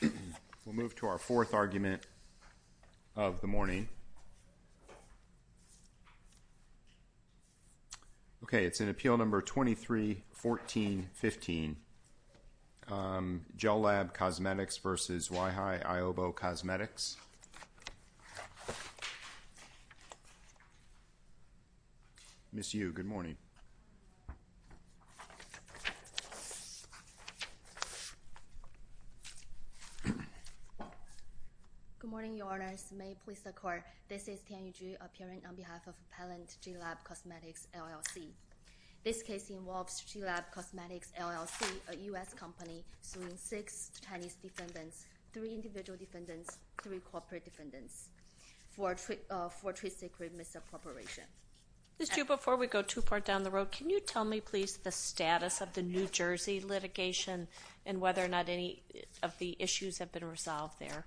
We'll move to our fourth argument of the morning. Okay, it's in Appeal No. 23-14-15, Gelab Cosmetics v. Zhuhai Aobo Cosmetics. Ms. Yu, good morning. Good morning, Your Honors. May it please the Court, this is Tianyu Zhu appearing on behalf of Appellant Gelab Cosmetics LLC. This case involves Gelab Cosmetics LLC, a U.S. company, suing six Chinese defendants, three individual defendants, three corporate defendants, for trade secret misappropriation. Ms. Zhu, before we go too far down the road, can you tell me, please, the status of the New Jersey litigation and whether or not any of the issues have been resolved there?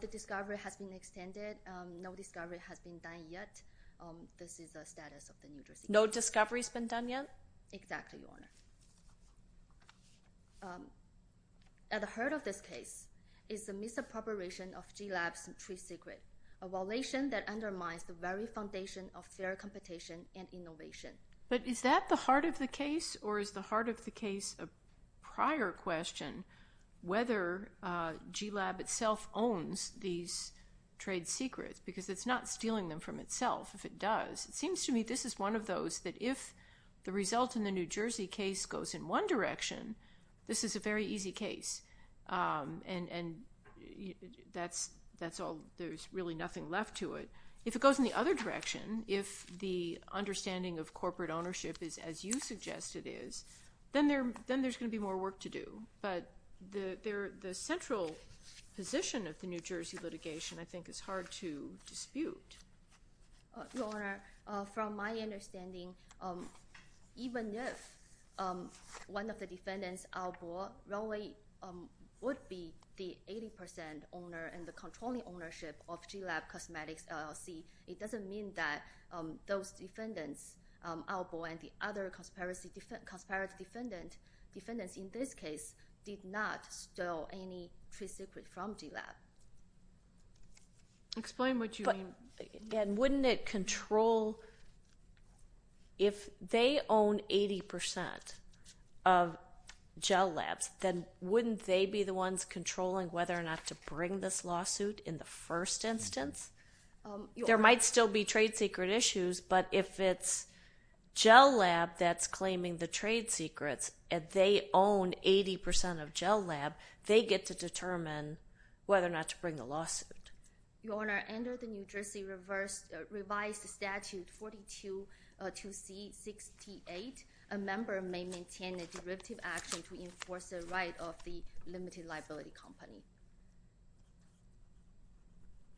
The discovery has been extended. No discovery has been done yet. This is the status of the New Jersey litigation. No discovery has been done yet? Exactly, Your Honor. At the heart of this case is the misappropriation of Gelab's trade secret, a violation that undermines the very foundation of fair competition and innovation. But is that the heart of the case, or is the heart of the case a prior question, whether Gelab itself owns these trade secrets? Because it's not stealing them from itself, if it does. It seems to me this is one of those that if the result in the New Jersey case goes in one direction, this is a very easy case, and that's all. There's really nothing left to it. If it goes in the other direction, if the understanding of corporate ownership is as you suggest it is, then there's going to be more work to do. But the central position of the New Jersey litigation I think is hard to dispute. Your Honor, from my understanding, even if one of the defendants outlawed, would be the 80% owner and the controlling ownership of Gelab Cosmetics LLC, it doesn't mean that those defendants outlawed and the other conspiracy defendants in this case did not steal any trade secret from Gelab. Explain what you mean. And wouldn't it control if they own 80% of Gelab, then wouldn't they be the ones controlling whether or not to bring this lawsuit in the first instance? There might still be trade secret issues, but if it's Gelab that's claiming the trade secrets and they own 80% of Gelab, they get to determine whether or not to bring the lawsuit. Your Honor, under the New Jersey revised statute 42-C-68, a member may maintain a derivative action to enforce the right of the limited liability company.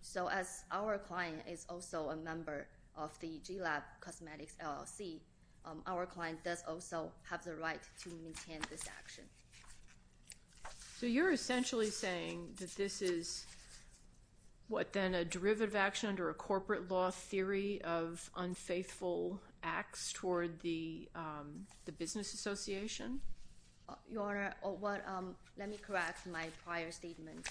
So as our client is also a member of the Gelab Cosmetics LLC, our client does also have the right to maintain this action. So you're essentially saying that this is what then a derivative action under a corporate law theory of unfaithful acts toward the business association? Your Honor, let me correct my prior statement.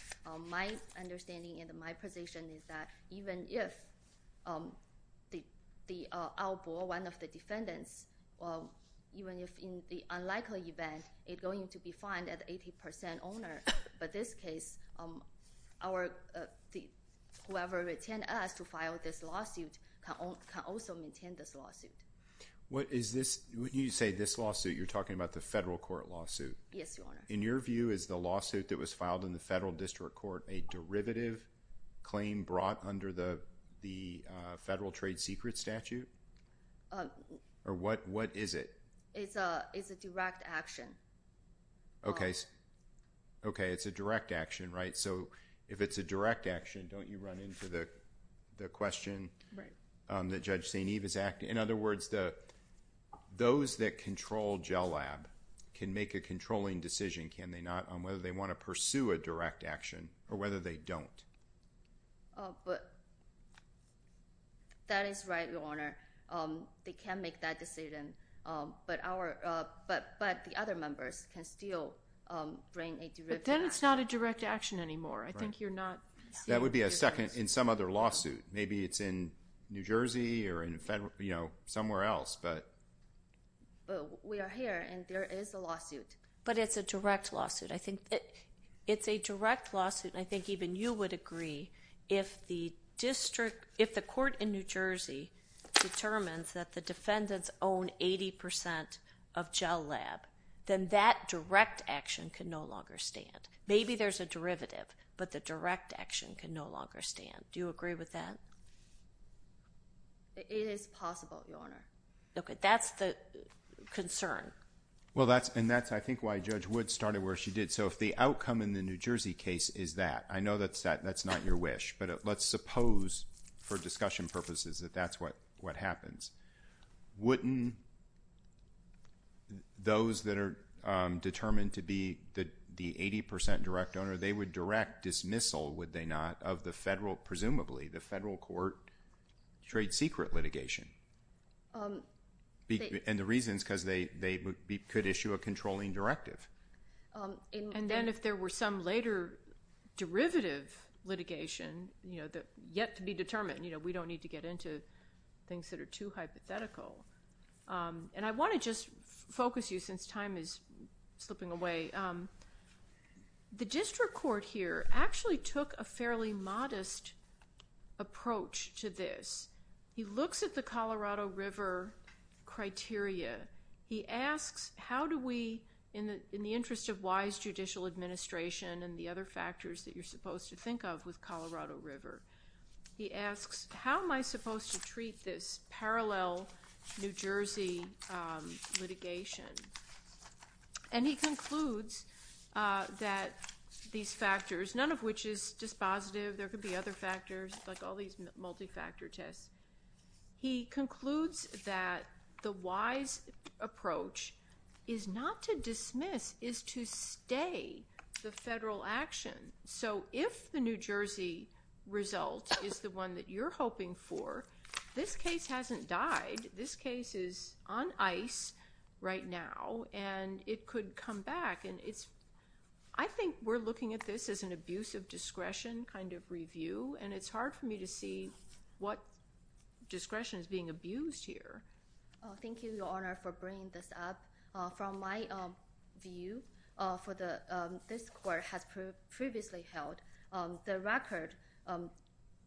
My understanding and my position is that even if the outlaw, one of the defendants, even if in the unlikely event it's going to be fined at 80% owner, but this case whoever retained us to file this lawsuit can also maintain this lawsuit. When you say this lawsuit, you're talking about the federal court lawsuit. Yes, Your Honor. In your view, is the lawsuit that was filed in the federal district court a derivative claim brought under the federal trade secret statute? Or what is it? It's a direct action. Okay, it's a direct action, right? So if it's a direct action, don't you run into the question that Judge St. Eve is asking? In other words, those that control Gelab can make a controlling decision, can they not, on whether they want to pursue a direct action or whether they don't? But that is right, Your Honor. They can make that decision, but the other members can still bring a derivative action. But then it's not a direct action anymore. I think you're not seeing the difference. That would be in some other lawsuit. Maybe it's in New Jersey or somewhere else. But we are here, and there is a lawsuit. But it's a direct lawsuit. I think it's a direct lawsuit, and I think even you would agree, if the court in New Jersey determines that the defendants own 80% of Gelab, then that direct action can no longer stand. Maybe there's a derivative, but the direct action can no longer stand. Do you agree with that? It is possible, Your Honor. Okay, that's the concern. Well, and that's, I think, why Judge Wood started where she did. So if the outcome in the New Jersey case is that, I know that's not your wish, but let's suppose, for discussion purposes, that that's what happens. Wouldn't those that are determined to be the 80% direct owner, they would direct dismissal, would they not, of the federal, presumably, the federal court trade secret litigation? And the reason is because they could issue a controlling directive. And then if there were some later derivative litigation, you know, yet to be determined, you know, we don't need to get into things that are too hypothetical. And I want to just focus you, since time is slipping away. The district court here actually took a fairly modest approach to this. He looks at the Colorado River criteria. He asks, how do we, in the interest of wise judicial administration and the other factors that you're supposed to think of with Colorado River, he asks, how am I supposed to treat this parallel New Jersey litigation? And he concludes that these factors, none of which is dispositive, there could be other factors, like all these multi-factor tests. He concludes that the wise approach is not to dismiss, is to stay the federal action. So if the New Jersey result is the one that you're hoping for, this case hasn't died. This case is on ice right now, and it could come back. I think we're looking at this as an abuse of discretion kind of review, and it's hard for me to see what discretion is being abused here. Thank you, Your Honor, for bringing this up. From my view, this court has previously held the record.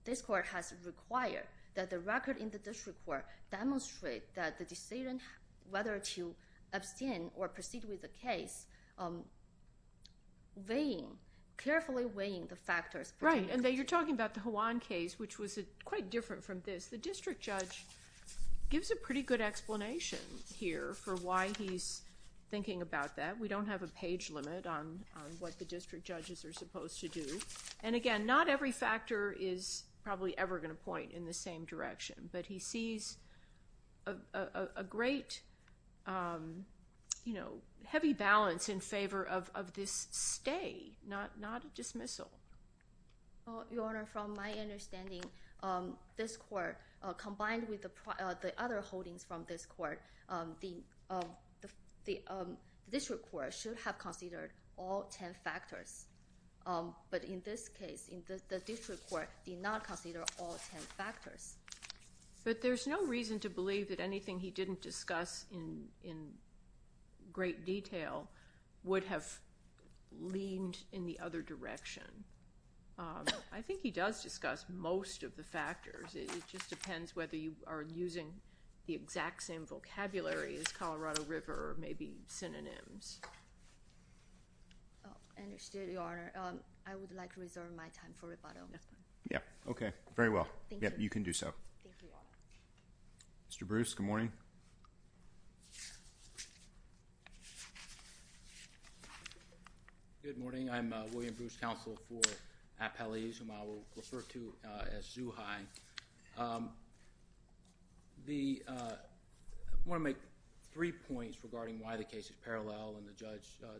This court has required that the record in the district court demonstrate that the decision whether to abstain or proceed with the case, weighing, carefully weighing the factors. Right, and you're talking about the Juan case, which was quite different from this. The district judge gives a pretty good explanation here for why he's thinking about that. We don't have a page limit on what the district judges are supposed to do. And, again, not every factor is probably ever going to point in the same direction. But he sees a great heavy balance in favor of this stay, not a dismissal. Your Honor, from my understanding, this court, combined with the other holdings from this court, the district court should have considered all 10 factors. But in this case, the district court did not consider all 10 factors. But there's no reason to believe that anything he didn't discuss in great detail would have leaned in the other direction. I think he does discuss most of the factors. It just depends whether you are using the exact same vocabulary as Colorado River or maybe synonyms. I understand, Your Honor. I would like to reserve my time for rebuttal. Okay, very well. You can do so. Thank you, Your Honor. Mr. Bruce, good morning. Good morning. I'm William Bruce, counsel for Appellees, whom I will refer to as Zuhai. I want to make three points regarding why the case is parallel and the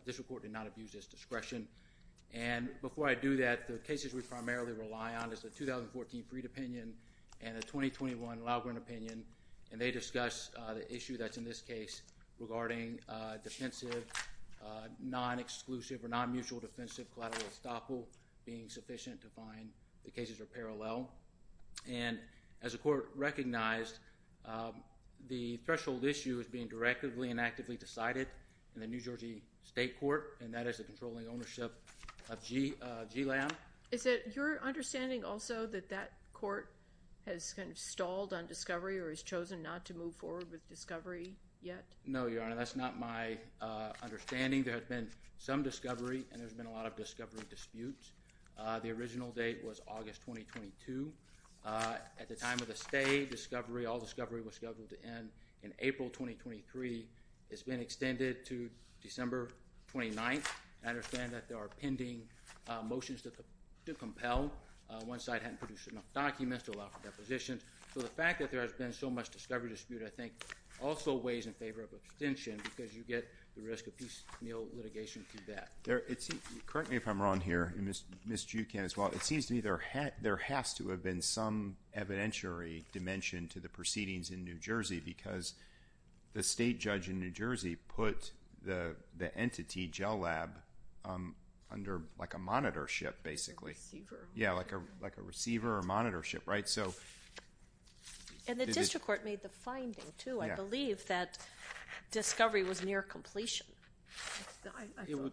district court did not abuse its discretion. Before I do that, the cases we primarily rely on is the 2014 Freed opinion and the 2021 Loughran opinion. They discuss the issue that's in this case regarding defensive, non-exclusive or non-mutual defensive collateral estoppel being sufficient to find the cases are parallel. As the court recognized, the threshold issue is being directly and actively decided in the New Jersey State Court, and that is the controlling ownership of GLAM. Is it your understanding also that that court has kind of stalled on discovery or has chosen not to move forward with discovery yet? No, Your Honor. That's not my understanding. There has been some discovery, and there's been a lot of discovery disputes. The original date was August 2022. At the time of the stay, discovery, all discovery was scheduled to end in April 2023. It's been extended to December 29th. I understand that there are pending motions to compel. One side hadn't produced enough documents to allow for depositions. So the fact that there has been so much discovery dispute, I think, also weighs in favor of abstention because you get the risk of piecemeal litigation through that. Correct me if I'm wrong here, and Ms. Jucan as well. Well, it seems to me there has to have been some evidentiary dimension to the proceedings in New Jersey because the state judge in New Jersey put the entity, GLAM, under like a monitorship, basically. A receiver. Yeah, like a receiver or monitorship, right? And the district court made the finding, too, I believe, that discovery was near completion. I felt that, too.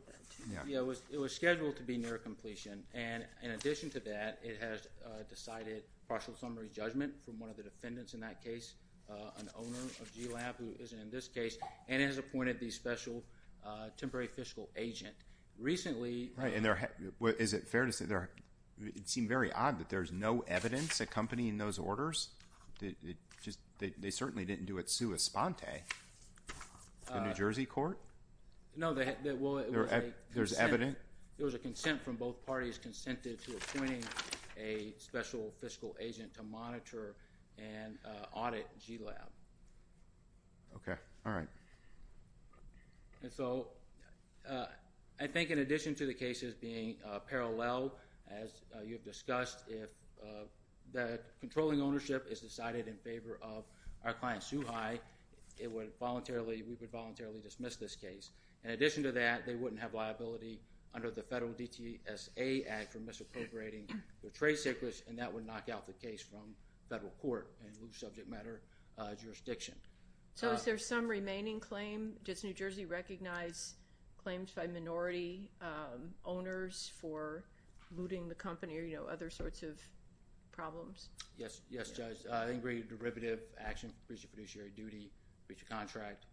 Yeah, it was scheduled to be near completion, and in addition to that it has decided partial summary judgment from one of the defendants in that case, an owner of GLAM who is in this case, and it has appointed the special temporary fiscal agent. Right, and is it fair to say it seemed very odd that there's no evidence accompanying those orders? They certainly didn't do it sua sponte, the New Jersey court. No, there was a consent. A consent from both parties consented to appointing a special fiscal agent to monitor and audit GLAM. Okay, all right. And so I think in addition to the cases being parallel, as you've discussed, if the controlling ownership is decided in favor of our client, Suhai, we would voluntarily dismiss this case. In addition to that, they wouldn't have liability under the federal DTSA Act for misappropriating their trade secrets, and that would knock out the case from federal court and lose subject matter jurisdiction. So is there some remaining claim? Does New Jersey recognize claims by minority owners for looting the company or, you know, other sorts of problems? Yes, Judge. I think we have derivative action for breach of fiduciary duty, breach of contract.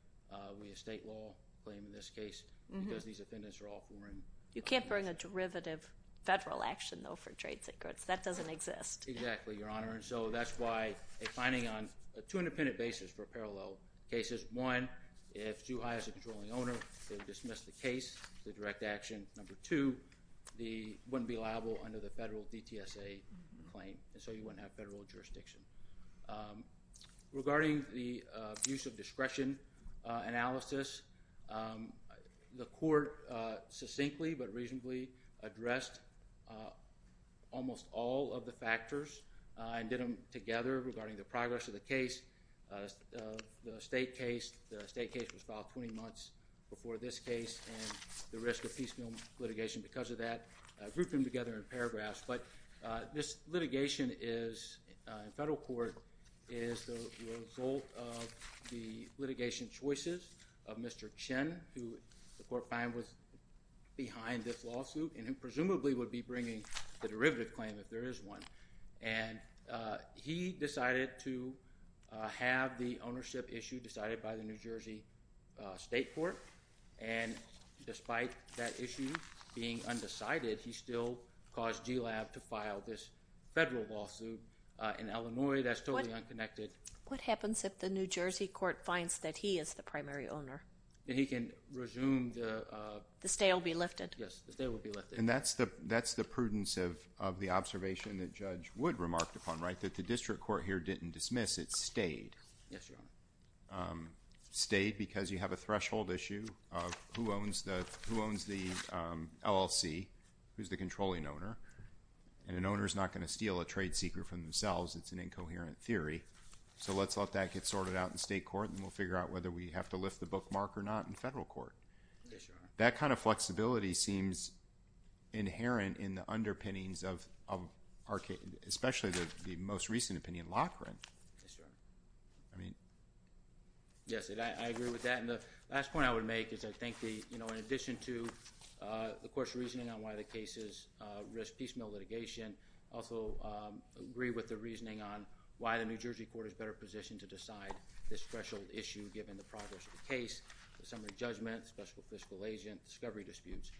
We have state law claim in this case because these offenders are all foreign. You can't bring a derivative federal action, though, for trade secrets. That doesn't exist. Exactly, Your Honor, and so that's why a finding on a two-independent basis for parallel cases. One, if Suhai is a controlling owner, they would dismiss the case, the direct action. Number two, they wouldn't be liable under the federal DTSA claim, and so you wouldn't have federal jurisdiction. Regarding the abuse of discretion analysis, the court succinctly but reasonably addressed almost all of the factors and did them together regarding the progress of the case, the state case. The state case was filed 20 months before this case and the risk of piecemeal litigation because of that. I grouped them together in paragraphs, but this litigation in federal court is the result of the litigation choices of Mr. Chen, who the court found was behind this lawsuit, and he presumably would be bringing the derivative claim if there is one. He decided to have the ownership issue decided by the New Jersey State Court, and despite that issue being undecided, he still caused GLAB to file this federal lawsuit in Illinois. That's totally unconnected. What happens if the New Jersey court finds that he is the primary owner? He can resume the… The stay will be lifted. Yes, the stay will be lifted. And that's the prudence of the observation that Judge Wood remarked upon, right, that the district court here didn't dismiss. It stayed. Yes, Your Honor. It stayed because you have a threshold issue of who owns the LLC, who is the controlling owner, and an owner is not going to steal a trade secret from themselves. It's an incoherent theory. So let's let that get sorted out in state court, and we'll figure out whether we have to lift the bookmark or not in federal court. Yes, Your Honor. That kind of flexibility seems inherent in the underpinnings of our case, especially the most recent opinion, Loughran. Yes, Your Honor. I mean… Yes, I agree with that. And the last point I would make is I think, you know, in addition to the court's reasoning on why the case is a risk piecemeal litigation, I also agree with the reasoning on why the New Jersey court is better positioned to decide this threshold issue given the progress of the case, the summary judgment, special fiscal agent, discovery disputes.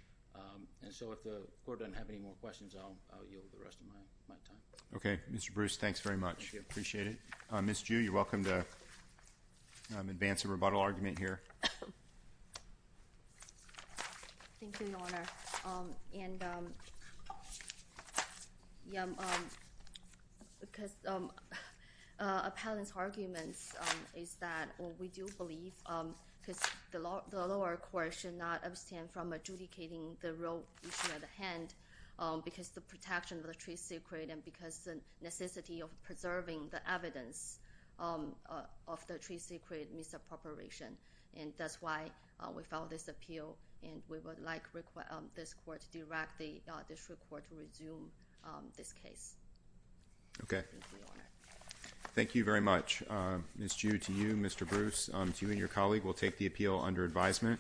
And so if the court doesn't have any more questions, I'll yield the rest of my time. Okay. Mr. Bruce, thanks very much. Thank you. I appreciate it. Ms. Ju, you're welcome to advance a rebuttal argument here. Thank you, Your Honor. And, yeah, because appellant's argument is that we do believe because the lower court should not abstain from adjudicating the real issue at hand because the protection of the trade secret and because the necessity of preserving the evidence of the trade secret misappropriation. And that's why we filed this appeal, and we would like this court to direct the district court to resume this case. Okay. Thank you, Your Honor. Thank you very much. Ms. Ju, to you, Mr. Bruce, to you and your colleague, we'll take the appeal under advisement.